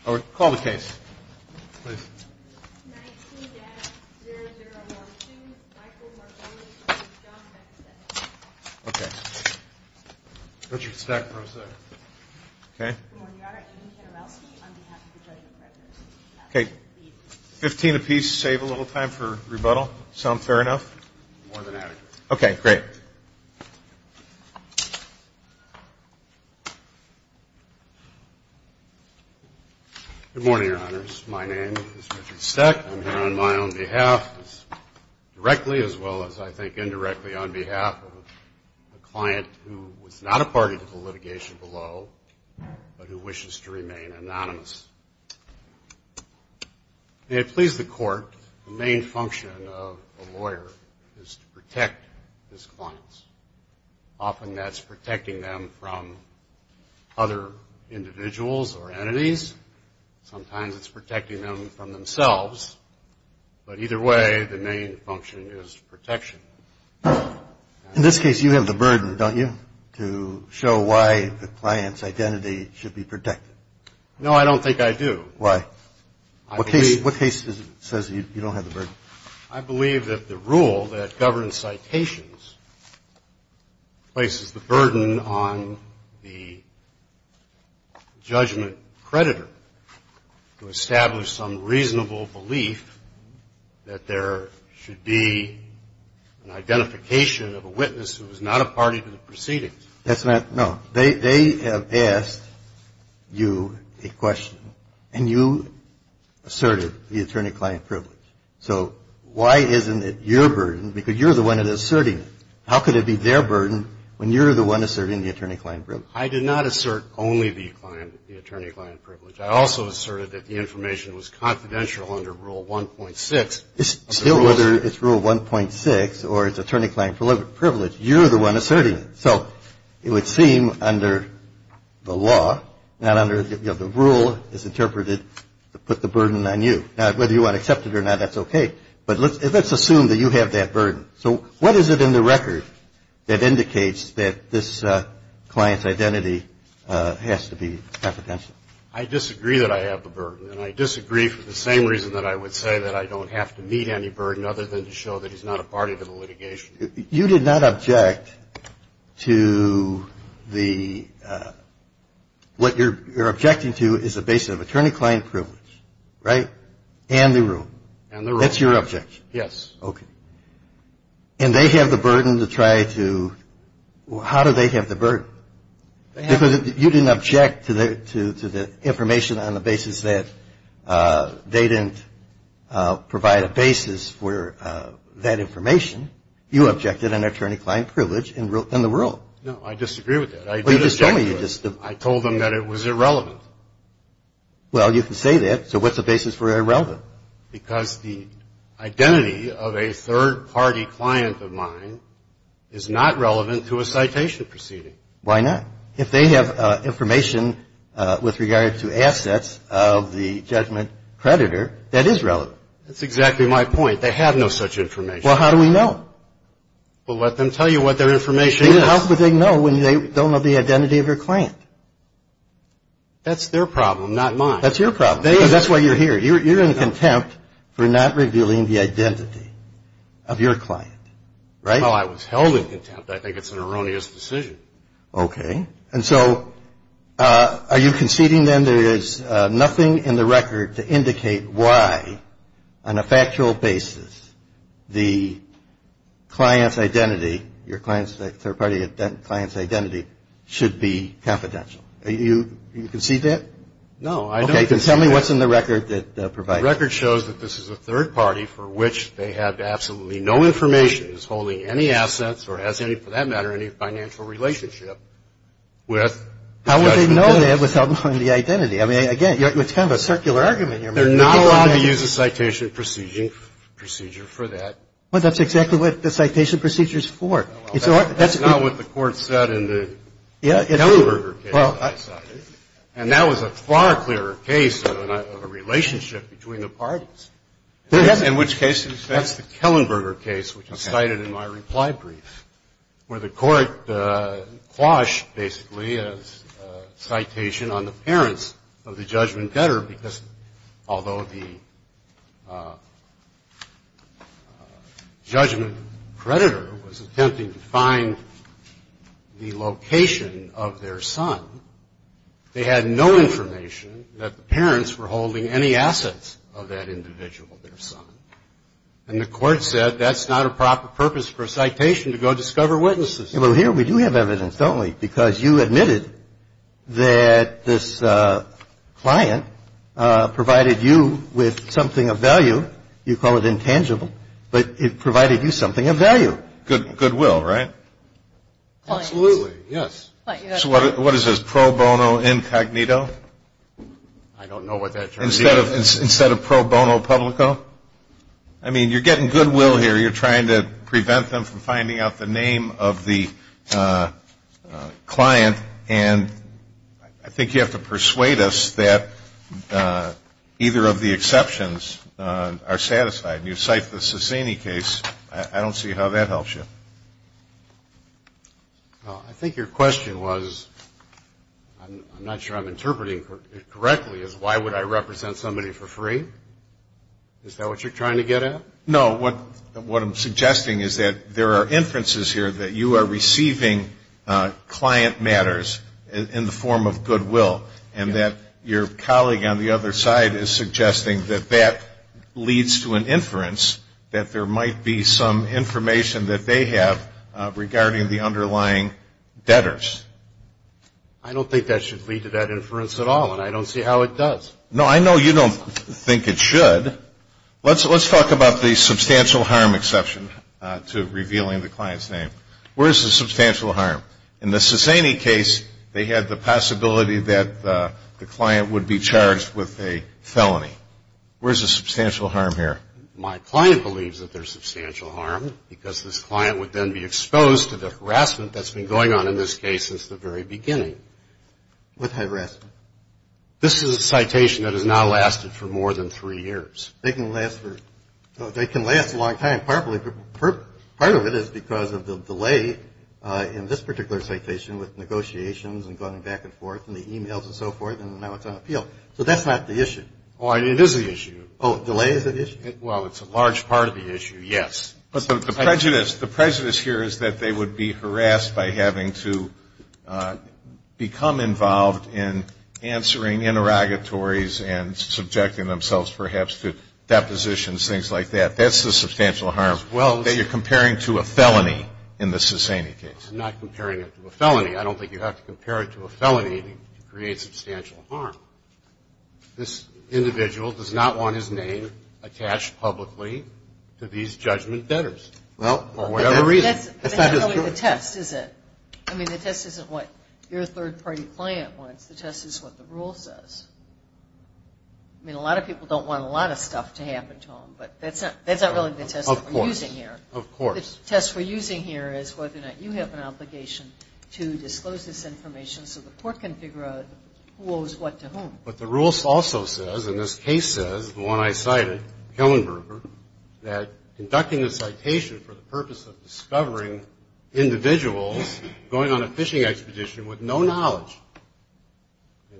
15 apiece. Save a little time for rebuttal. Sound fair enough? More than adequate. Okay. Great. Good morning, Your Honors. My name is Richard Steck. I'm here on my own behalf, directly as well as, I think, indirectly on behalf of a client who was not a party to the litigation below, but who wishes to remain anonymous. May it please the Court, the main function of a lawyer is to protect his clients. Often that's protecting them from other individuals or entities. Sometimes it's protecting them from themselves. But either way, the main function is protection. In this case, you have the burden, don't you, to show why the client's identity should be protected? No, I don't think I do. Why? What case says you don't have the burden? I believe that the rule that governs citations places the burden on the judgment creditor to establish some reasonable belief that there should be an identification of a witness who is not a party to the proceedings. That's not, no. They have asked you a question, and you asserted the attorney-client privilege. So why isn't it your burden? Because you're the one that is asserting it. How could it be their burden when you're the one asserting the attorney-client privilege? I did not assert only the attorney-client privilege. I also asserted that the information was confidential under Rule 1.6. Still, whether it's Rule 1.6 or it's attorney-client privilege, you're the one asserting it. So it would seem under the law, not under, you know, the rule is interpreted to put the burden on you. Now, whether you want to accept it or not, that's okay. But let's assume that you have that burden. So what is it in the record that indicates that this client's identity has to be confidential? I disagree that I have the burden, and I disagree for the same reason that I would say that I don't have to meet any burden other than to show that he's not a party to the litigation. You did not object to the – what you're objecting to is a basis of attorney-client privilege, right? And the rule. And the rule. That's your objection. Yes. Okay. And they have the burden to try to – how do they have the burden? Because you didn't object to the information on the basis that they didn't provide a basis for that information. You objected an attorney-client privilege in the rule. No, I disagree with that. I told them that it was irrelevant. Well, you can say that. So what's the basis for irrelevant? Because the identity of a third-party client of mine is not relevant to a citation proceeding. Why not? If they have information with regard to assets of the judgment creditor, that is relevant. That's exactly my point. They have no such information. Well, how do we know? Well, let them tell you what their information is. How would they know when they don't know the identity of your client? That's their problem, not mine. That's your problem. That's why you're here. You're in contempt for not revealing the identity of your client, right? Well, I was held in contempt. I think it's an erroneous decision. Okay. And so are you conceding then there is nothing in the record to indicate why, on a factual basis, the client's identity, your client's third-party client's identity, should be confidential? No, I don't concede that. Okay. You can tell me what's in the record that provides it. The record shows that this is a third-party for which they have absolutely no information, is holding any assets or has any, for that matter, any financial relationship with the judgment creditor. How would they know that without knowing the identity? I mean, again, it's kind of a circular argument here. They're not allowed to use a citation procedure for that. Well, that's exactly what the citation procedure is for. And that was a far clearer case of a relationship between the parties. In which case? That's the Kellenberger case, which was cited in my reply brief, where the court quashed basically a citation on the parents of the judgment debtor because although the judgment creditor was attempting to find the location of their son, they had no information that the parents were holding any assets of that individual, their son. And the court said that's not a proper purpose for a citation to go discover witnesses. Well, here we do have evidence, don't we? Because you admitted that this client provided you with something of value. You call it intangible. But it provided you something of value. Goodwill, right? Absolutely, yes. So what is this, pro bono incognito? I don't know what that term is either. Instead of pro bono publico? I mean, you're getting goodwill here. You're trying to prevent them from finding out the name of the client. And I think you have to persuade us that either of the exceptions are satisfied. And you cite the Sassini case. I don't see how that helps you. I think your question was, I'm not sure I'm interpreting it correctly, is why would I represent somebody for free? Is that what you're trying to get at? No. What I'm suggesting is that there are inferences here that you are receiving client matters in the form of goodwill. And that your colleague on the other side is suggesting that that leads to an inference that there might be some information that they have regarding the underlying debtors. I don't think that should lead to that inference at all. And I don't see how it does. No, I know you don't think it should. Let's talk about the substantial harm exception to revealing the client's name. Where is the substantial harm? In the Sassini case, they had the possibility that the client would be charged with a felony. Where is the substantial harm here? My client believes that there's substantial harm because this client would then be exposed to the harassment that's been going on in this case since the very beginning. What harassment? This is a citation that has now lasted for more than three years. They can last a long time. Part of it is because of the delay in this particular citation with negotiations and going back and forth and the e-mails and so forth, and now it's on appeal. So that's not the issue. Oh, it is the issue. Oh, delay is the issue? Well, it's a large part of the issue, yes. But the prejudice here is that they would be harassed by having to become involved in answering interrogatories and subjecting themselves perhaps to depositions, things like that. That's the substantial harm that you're comparing to a felony in the Sassini case. I'm not comparing it to a felony. I don't think you have to compare it to a felony to create substantial harm. This individual does not want his name attached publicly to these judgment debtors for whatever reason. That's not really the test, is it? I mean, the test isn't what your third-party client wants. The test is what the rule says. I mean, a lot of people don't want a lot of stuff to happen to them, but that's not really the test we're using here. Of course. The test we're using here is whether or not you have an obligation to disclose this information so the court can figure out who owes what to whom. But the rule also says, and this case says, the one I cited, Kellenberger, that conducting a citation for the purpose of discovering individuals going on a fishing expedition with no knowledge,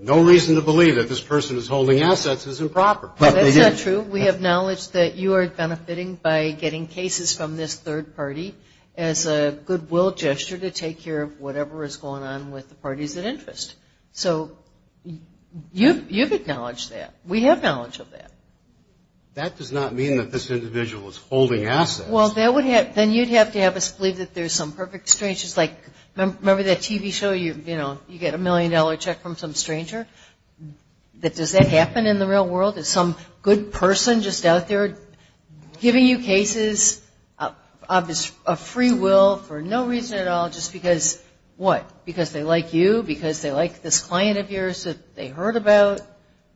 no reason to believe that this person is holding assets is improper. That's not true. We have knowledge that you are benefiting by getting cases from this third party as a goodwill gesture to take care of whatever is going on with the parties that interest. So you've acknowledged that. We have knowledge of that. That does not mean that this individual is holding assets. Well, then you'd have to have us believe that there's some perfect stranger. It's like, remember that TV show, you know, you get a million-dollar check from some stranger? Does that happen in the real world? Is some good person just out there giving you cases of free will for no reason at all just because, what, because they like you, because they like this client of yours that they heard about?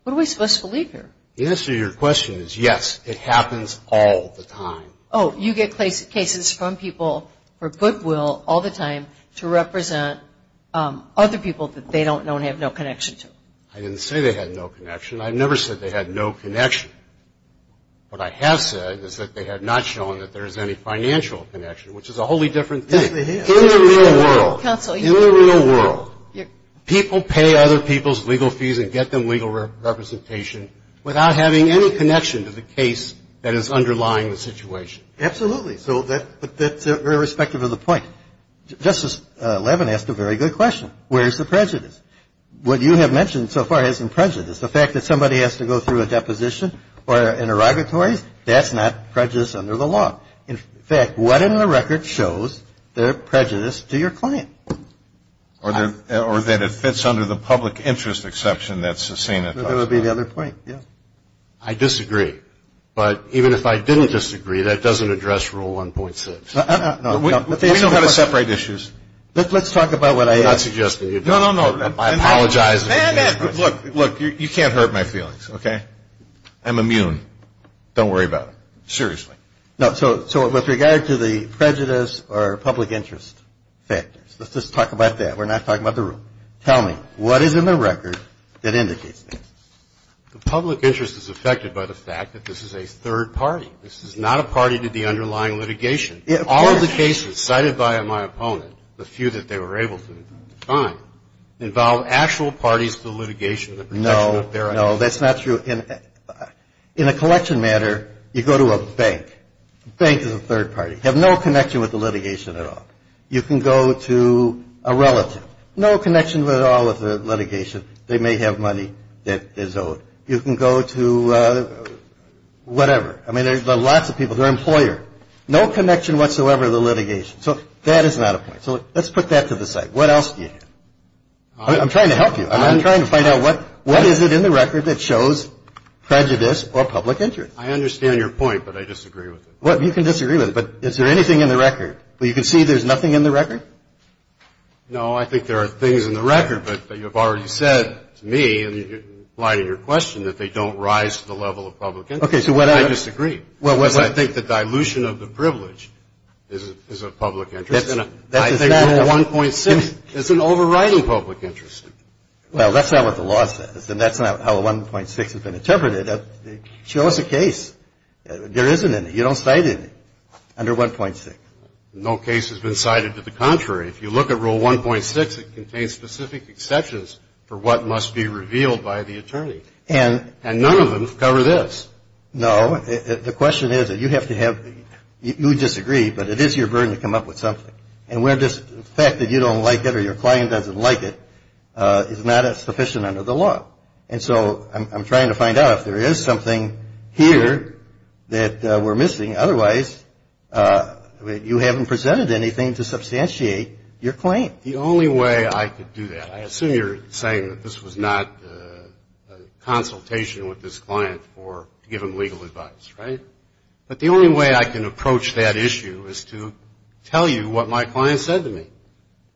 What are we supposed to believe here? The answer to your question is yes, it happens all the time. Oh, you get cases from people for goodwill all the time to represent other people that they don't know and have no connection to. I didn't say they had no connection. I never said they had no connection. What I have said is that they have not shown that there is any financial connection, which is a wholly different thing. It definitely is. In the real world, in the real world, people pay other people's legal fees and get them legal representation without having any connection to the case that is underlying the situation. Absolutely. So that's very respective of the point. Justice Levin asked a very good question. Where's the prejudice? What you have mentioned so far hasn't prejudiced. The fact that somebody has to go through a deposition or interrogatories, that's not prejudice under the law. In fact, what in the record shows their prejudice to your client? Or that it fits under the public interest exception that's the same. That would be the other point, yeah. I disagree. But even if I didn't disagree, that doesn't address Rule 1.6. We know how to separate issues. Let's talk about what I asked. I'm not suggesting. No, no, no. I apologize. Look, look, you can't hurt my feelings, okay? I'm immune. Don't worry about it. Seriously. So with regard to the prejudice or public interest factors, let's just talk about that. We're not talking about the rule. Tell me, what is in the record that indicates this? The public interest is affected by the fact that this is a third party. This is not a party to the underlying litigation. All of the cases cited by my opponent, the few that they were able to find, involve actual parties to the litigation and the protection of their identity. No, no. That's not true. In a collection matter, you go to a bank. The bank is a third party. You have no connection with the litigation at all. You can go to a relative. No connection at all with the litigation. They may have money that is owed. You can go to whatever. I mean, there's lots of people. Their employer. No connection whatsoever to the litigation. So that is not a point. So let's put that to the side. What else do you have? I'm trying to help you. I'm trying to find out what is it in the record that shows prejudice or public interest? I understand your point, but I disagree with it. You can disagree with it, but is there anything in the record? You can see there's nothing in the record? No, I think there are things in the record, but you've already said to me, in light of your question, that they don't rise to the level of public interest. I disagree. Because I think the dilution of the privilege is of public interest. I think 1.6 is an overriding public interest. Well, that's not what the law says, and that's not how 1.6 has been interpreted. Show us a case. There isn't any. You don't cite any under 1.6. No case has been cited to the contrary. If you look at Rule 1.6, it contains specific exceptions for what must be revealed by the attorney. And none of them cover this. No. The question is that you have to have the you disagree, but it is your burden to come up with something. And the fact that you don't like it or your client doesn't like it is not sufficient under the law. And so I'm trying to find out if there is something here that we're missing. Otherwise, you haven't presented anything to substantiate your claim. The only way I could do that, I assume you're saying that this was not a consultation with this client for giving legal advice, right? But the only way I can approach that issue is to tell you what my client said to me.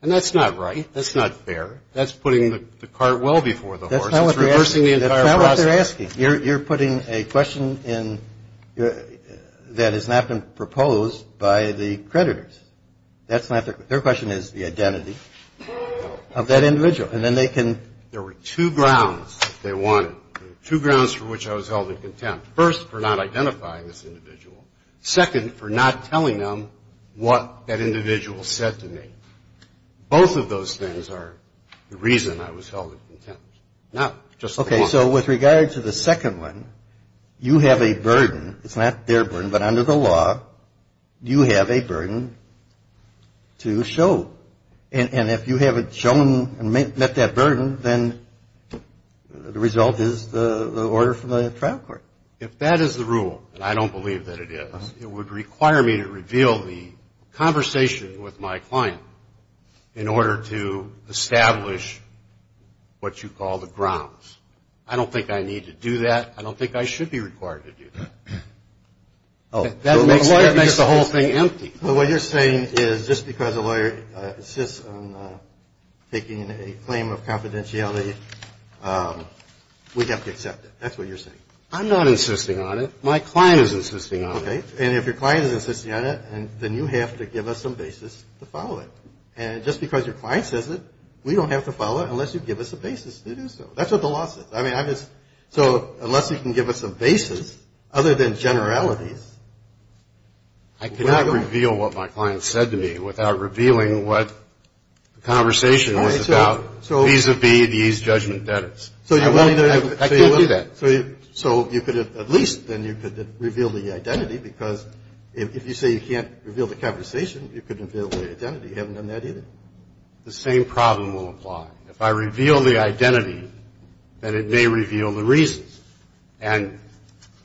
And that's not right. That's not fair. That's putting the cart well before the horse. It's reversing the entire process. That's not what they're asking. You're putting a question in that has not been proposed by the creditors. That's not the question. Their question is the identity of that individual. And then they can – There were two grounds they wanted, two grounds for which I was held in contempt. First, for not identifying this individual. Second, for not telling them what that individual said to me. Both of those things are the reason I was held in contempt. Not just the one. Okay. So with regard to the second one, you have a burden. It's not their burden. But under the law, you have a burden to show. And if you haven't shown and met that burden, then the result is the order from the trial court. If that is the rule, and I don't believe that it is, it would require me to reveal the conversation with my client in order to establish what you call the grounds. I don't think I need to do that. I don't think I should be required to do that. That makes the whole thing empty. Well, what you're saying is just because a lawyer insists on making a claim of confidentiality, we have to accept it. That's what you're saying. I'm not insisting on it. My client is insisting on it. Okay. And if your client is insisting on it, then you have to give us some basis to follow it. And just because your client says it, we don't have to follow it unless you give us a basis to do so. That's what the law says. I mean, I just – so unless you can give us a basis, other than generalities, I cannot reveal what my client said to me without revealing what the conversation was about, vis-a-vis these judgment debtors. So you're willing to – I can't do that. So you could have – at least then you could reveal the identity, because if you say you can't reveal the conversation, you couldn't reveal the identity. You haven't done that either. The same problem will apply. If I reveal the identity, then it may reveal the reasons. And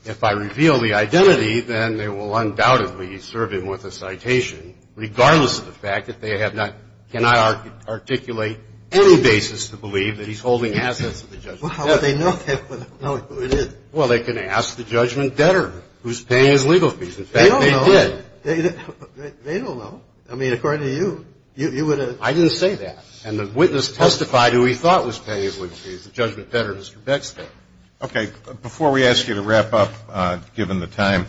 if I reveal the identity, then they will undoubtedly serve him with a citation, regardless of the fact that they have not – cannot articulate any basis to believe that he's holding assets of the judgment debtor. Well, how would they know who it is? Well, they can ask the judgment debtor who's paying his legal fees. In fact, they did. They don't know. They don't know. I mean, according to you, you would have – I didn't say that. And the witness testified who he thought was paying his legal fees, the judgment debtor, Mr. Bextor. Okay. Before we ask you to wrap up, given the time,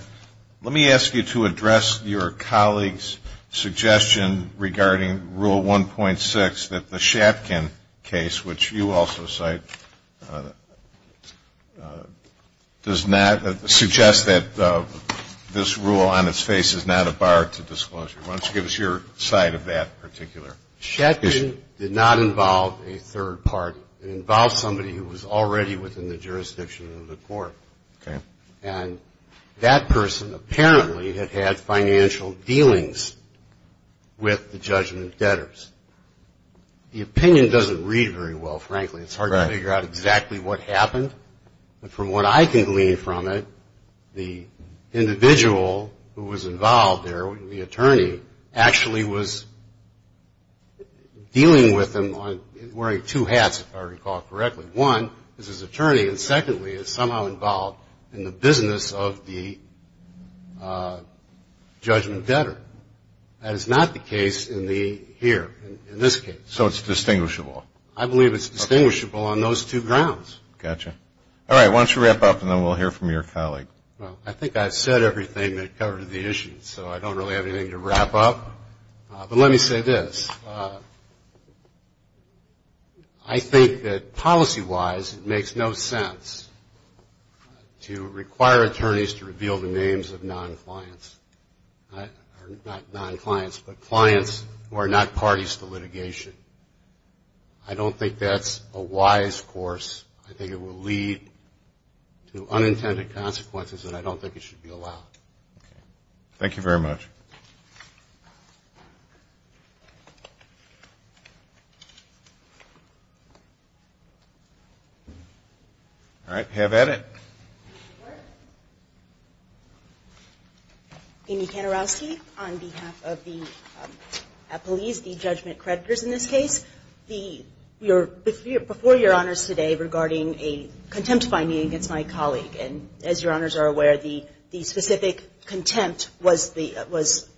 let me ask you to address your colleague's suggestion regarding Rule 1.6, that the Shatkin case, which you also cite, does not – suggests that this rule on its face is not a bar to disclosure. Why don't you give us your side of that particular issue? Shatkin did not involve a third party. It involved somebody who was already within the jurisdiction of the court. Okay. And that person apparently had had financial dealings with the judgment debtors. The opinion doesn't read very well, frankly. It's hard to figure out exactly what happened. But from what I can glean from it, the individual who was involved there, the attorney, actually was dealing with them wearing two hats, if I recall correctly. One is his attorney, and secondly is somehow involved in the business of the judgment debtor. That is not the case in the – here, in this case. So it's distinguishable. I believe it's distinguishable on those two grounds. Gotcha. All right, why don't you wrap up, and then we'll hear from your colleague. Well, I think I've said everything that covered the issue, so I don't really have anything to wrap up. But let me say this. I think that policy-wise it makes no sense to require attorneys to reveal the names of non-clients, or not non-clients, but clients who are not parties to litigation. I don't think that's a wise course. I think it will lead to unintended consequences, and I don't think it should be allowed. Okay. Thank you very much. All right. Have at it. Amy Kantorowski on behalf of the appellees, the judgment creditors in this case. Before Your Honors today regarding a contempt finding against my colleague, and as Your Honors are aware, the specific contempt was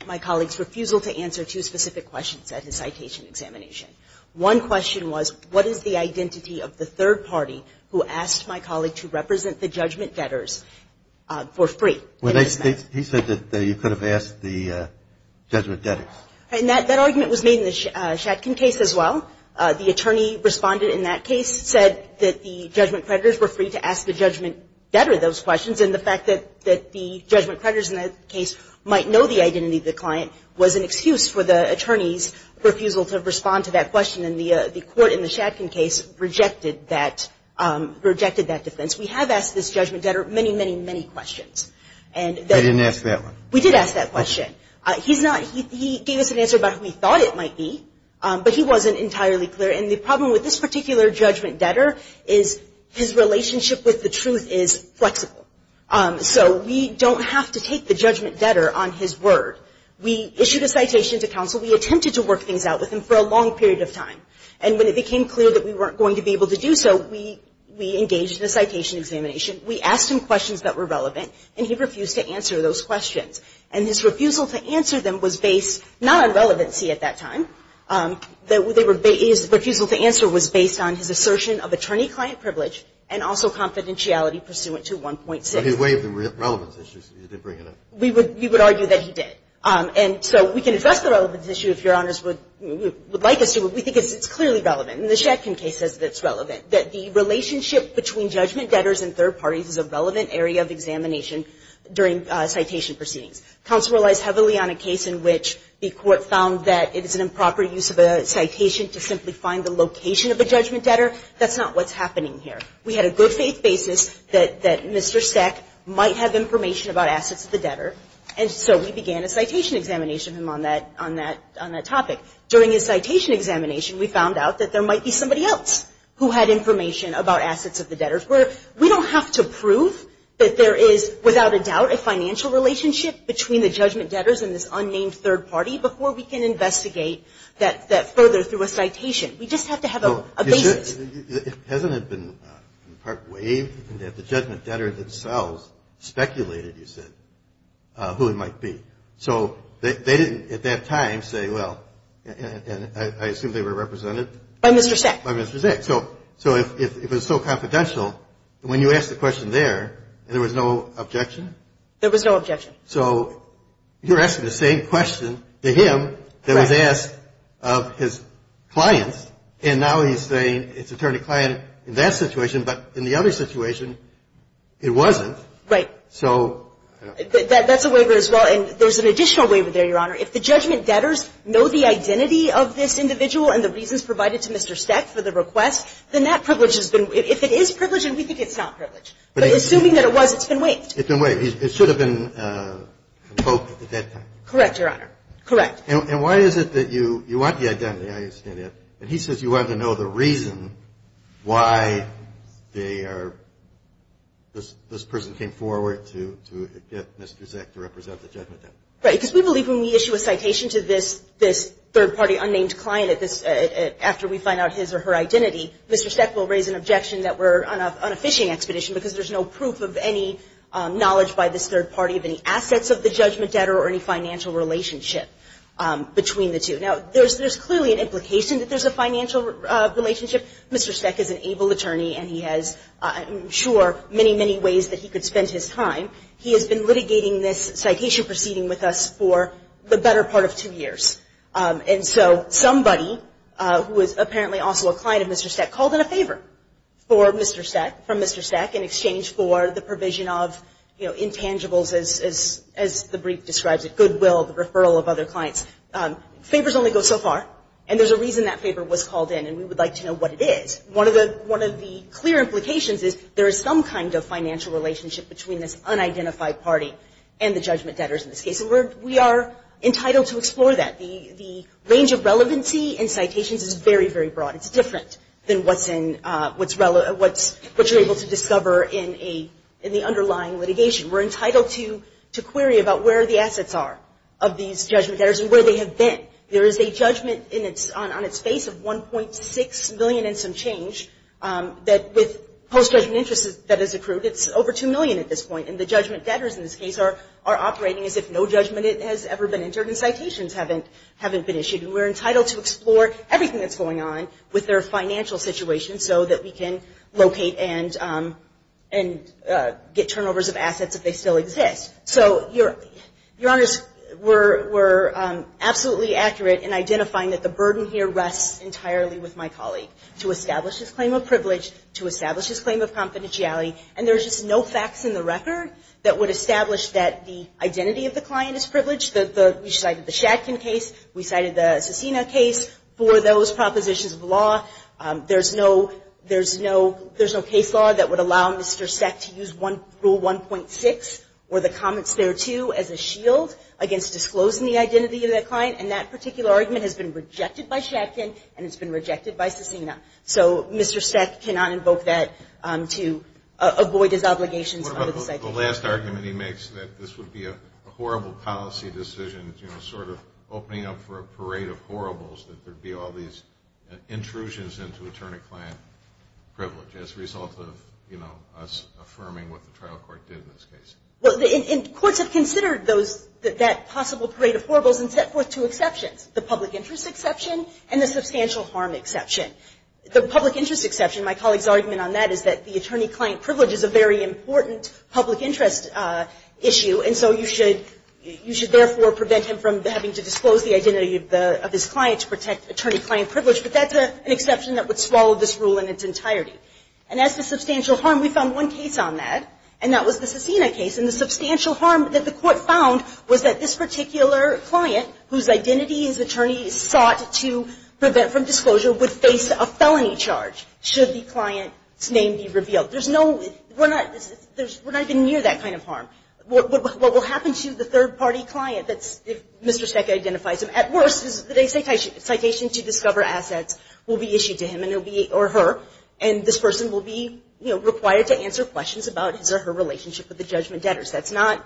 my colleague's refusal to answer two specific questions at his citation examination. One question was, what is the identity of the third party who asked my colleague to represent the judgment debtors for free? He said that you could have asked the judgment debtors. And that argument was made in the Shatkin case as well. The attorney responded in that case, said that the judgment creditors were free to ask the judgment debtor those questions, and the fact that the judgment creditors in that case might know the identity of the client was an excuse for the attorney's refusal to respond to that question. And the court in the Shatkin case rejected that defense. We have asked this judgment debtor many, many, many questions. I didn't ask that one. We did ask that question. He gave us an answer about who he thought it might be, but he wasn't entirely clear. And the problem with this particular judgment debtor is his relationship with the truth is flexible. So we don't have to take the judgment debtor on his word. We issued a citation to counsel. We attempted to work things out with him for a long period of time. And when it became clear that we weren't going to be able to do so, we engaged in a citation examination. We asked him questions that were relevant, and he refused to answer those questions. And his refusal to answer them was based not on relevancy at that time. His refusal to answer was based on his assertion of attorney-client privilege and also confidentiality pursuant to 1.6. But he waived the relevance issue. He did bring it up. We would argue that he did. And so we can address the relevance issue if Your Honors would like us to, but we think it's clearly relevant. And the Shatkin case says that it's relevant, that the relationship between judgment debtors and third parties is a relevant area of examination during citation proceedings. Counsel relies heavily on a case in which the court found that it is an improper use of a citation to simply find the location of a judgment debtor. That's not what's happening here. We had a good faith basis that Mr. Sec might have information about assets of the debtor, and so we began a citation examination on that topic. During his citation examination, we found out that there might be somebody else who had information about assets of the debtor. We don't have to prove that there is, without a doubt, a financial relationship between the judgment debtors and this unnamed third party before we can investigate that further through a citation. We just have to have a basis. It hasn't been in part waived. The judgment debtors themselves speculated, you said, who it might be. So they didn't at that time say, well, and I assume they were represented? By Mr. Sec. By Mr. Sec. So if it was so confidential, when you asked the question there, there was no objection? There was no objection. So you're asking the same question to him that was asked of his clients, and now he's saying it's attorney-client in that situation, but in the other situation, it wasn't. Right. So. That's a waiver as well, and there's an additional waiver there, Your Honor. If the judgment debtors know the identity of this individual and the reasons provided to Mr. Sec. for the request, then that privilege has been, if it is privileged, then we think it's not privileged. But assuming that it was, it's been waived. It's been waived. It should have been invoked at that time. Correct, Your Honor. Correct. And why is it that you want the identity? I understand that. But he says you want to know the reason why they are, this person came forward to get Mr. Sec. to represent the judgment debtors. Right. Because we believe when we issue a citation to this third-party unnamed client after we find out his or her identity, Mr. Sec. will raise an objection that we're on a phishing expedition because there's no proof of any knowledge by this third party of any assets of the judgment debtor or any financial relationship between the two. Now, there's clearly an implication that there's a financial relationship. Mr. Sec. is an able attorney, and he has, I'm sure, many, many ways that he could spend his time. He has been litigating this citation proceeding with us for the better part of two years. And so somebody who is apparently also a client of Mr. Sec. called in a favor from Mr. Sec. in exchange for the provision of, you know, intangibles, as the brief describes it, goodwill, the referral of other clients. Favors only go so far, and there's a reason that favor was called in, and we would like to know what it is. One of the clear implications is there is some kind of financial relationship between this unidentified party and the judgment debtors in this case, and we are entitled to explore that. The range of relevancy in citations is very, very broad. It's different than what you're able to discover in the underlying litigation. We're entitled to query about where the assets are of these judgment debtors and where they have been. There is a judgment on its face of $1.6 million and some change that with post-judgment interest that is accrued. It's over $2 million at this point, and the judgment debtors in this case are operating as if no judgment has ever been entered and citations haven't been issued. And we're entitled to explore everything that's going on with their financial situation so that we can locate and get turnovers of assets if they still exist. So, Your Honors, we're absolutely accurate in identifying that the burden here rests entirely with my colleague to establish his claim of privilege, to establish his claim of confidentiality, and there's just no facts in the record that would establish that the identity of the client is privileged. We cited the Shatkin case. We cited the Cesena case. For those propositions of law, there's no case law that would allow Mr. Seck to use Rule 1.6 or the comments thereto as a shield against disclosing the identity of that client, and that particular argument has been rejected by Shatkin, and it's been rejected by Cesena. So Mr. Seck cannot invoke that to avoid his obligations under the cycle. The last argument he makes that this would be a horrible policy decision, you know, sort of opening up for a parade of horribles, that there would be all these intrusions into attorney-client privilege as a result of, you know, us affirming what the trial court did in this case. Well, courts have considered that possible parade of horribles and set forth two exceptions, the public interest exception and the substantial harm exception. The public interest exception, my colleague's argument on that, is that the attorney-client privilege is a very important public interest issue, and so you should therefore prevent him from having to disclose the identity of his client to protect attorney-client privilege, but that's an exception that would swallow this rule in its entirety. And that's the substantial harm. We found one case on that, and that was the Cesena case, and the substantial harm that the court found was that this particular client, whose identity his attorney sought to prevent from disclosure, would face a felony charge should the client's name be revealed. There's no – we're not – we're not even near that kind of harm. What will happen to the third-party client if Mr. Seck identifies him? At worst, the citation to discover assets will be issued to him or her, and this person will be, you know, required to answer questions about his or her relationship with the judgment debtors. That's not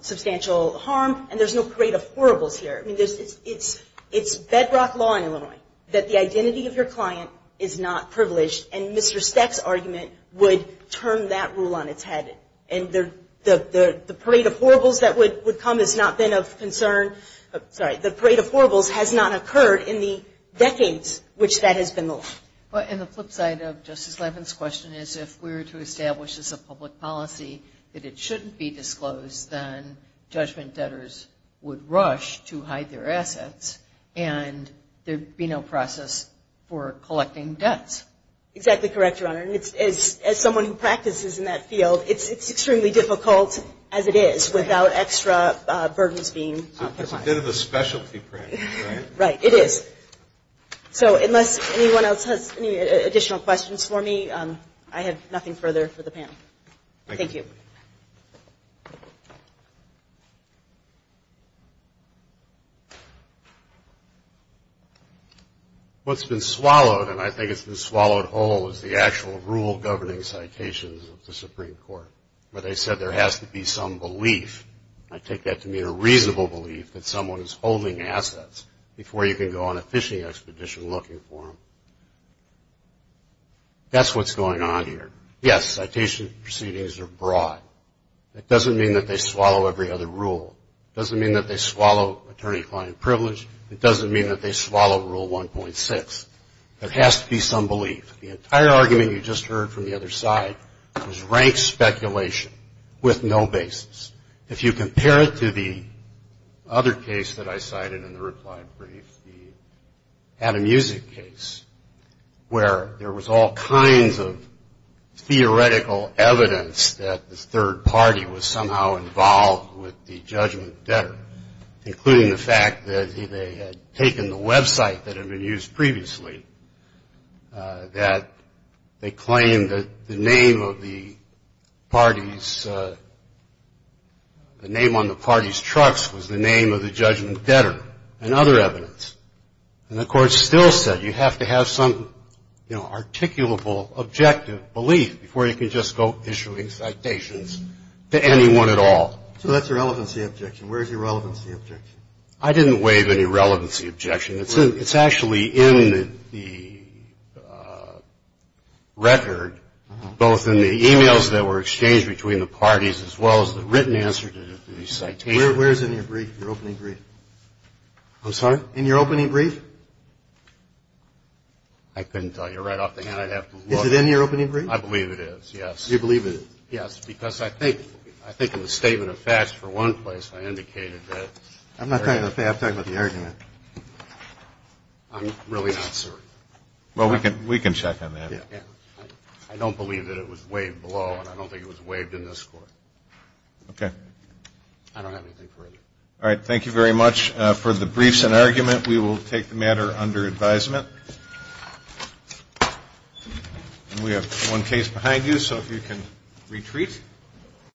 substantial harm, and there's no parade of horribles here. I mean, it's bedrock law in Illinois that the identity of your client is not privileged, and Mr. Seck's argument would turn that rule on its head. And the parade of horribles that would come has not been of concern – sorry, the parade of horribles has not occurred in the decades which that has been the law. And the flip side of Justice Levin's question is if we were to establish as a public policy that it shouldn't be disclosed, then judgment debtors would rush to hide their assets and there would be no process for collecting debts. Exactly correct, Your Honor. And as someone who practices in that field, it's extremely difficult as it is without extra burdens being put on it. It's a bit of a specialty practice, right? Right, it is. So unless anyone else has any additional questions for me, I have nothing further for the panel. Thank you. What's been swallowed, and I think it's been swallowed whole, is the actual rule-governing citations of the Supreme Court where they said there has to be some belief. I take that to mean a reasonable belief that someone is holding assets before you can go on a fishing expedition looking for them. That's what's going on here. Yes, citation proceedings are broad. It doesn't mean that they swallow every other rule. It doesn't mean that they swallow attorney-client privilege. It doesn't mean that they swallow Rule 1.6. There has to be some belief. The entire argument you just heard from the other side was rank speculation with no basis. If you compare it to the other case that I cited in the reply brief, the Adam Usick case, where there was all kinds of theoretical evidence that the third party was somehow involved with the judgment debtor, including the fact that they had taken the website that had been used previously, that they claimed that the name on the party's trucks was the name of the judgment debtor and other evidence. And the court still said you have to have some, you know, articulable objective belief before you can just go issuing citations to anyone at all. So that's a relevancy objection. Where is your relevancy objection? I didn't waive any relevancy objection. It's actually in the record, both in the e-mails that were exchanged between the parties, as well as the written answer to the citation. Where is it in your brief, your opening brief? I'm sorry? In your opening brief? I couldn't tell you. Right off the hat, I'd have to look. Is it in your opening brief? I believe it is, yes. You believe it is? Yes, because I think in the statement of facts, for one place, I indicated that. I'm not talking about the fact. I'm talking about the argument. I'm really not, sir. Well, we can check on that. I don't believe that it was waived below, and I don't think it was waived in this court. Okay. I don't have anything further. All right. Thank you very much. For the briefs and argument, we will take the matter under advisement. We have one case behind you, so if you can retreat.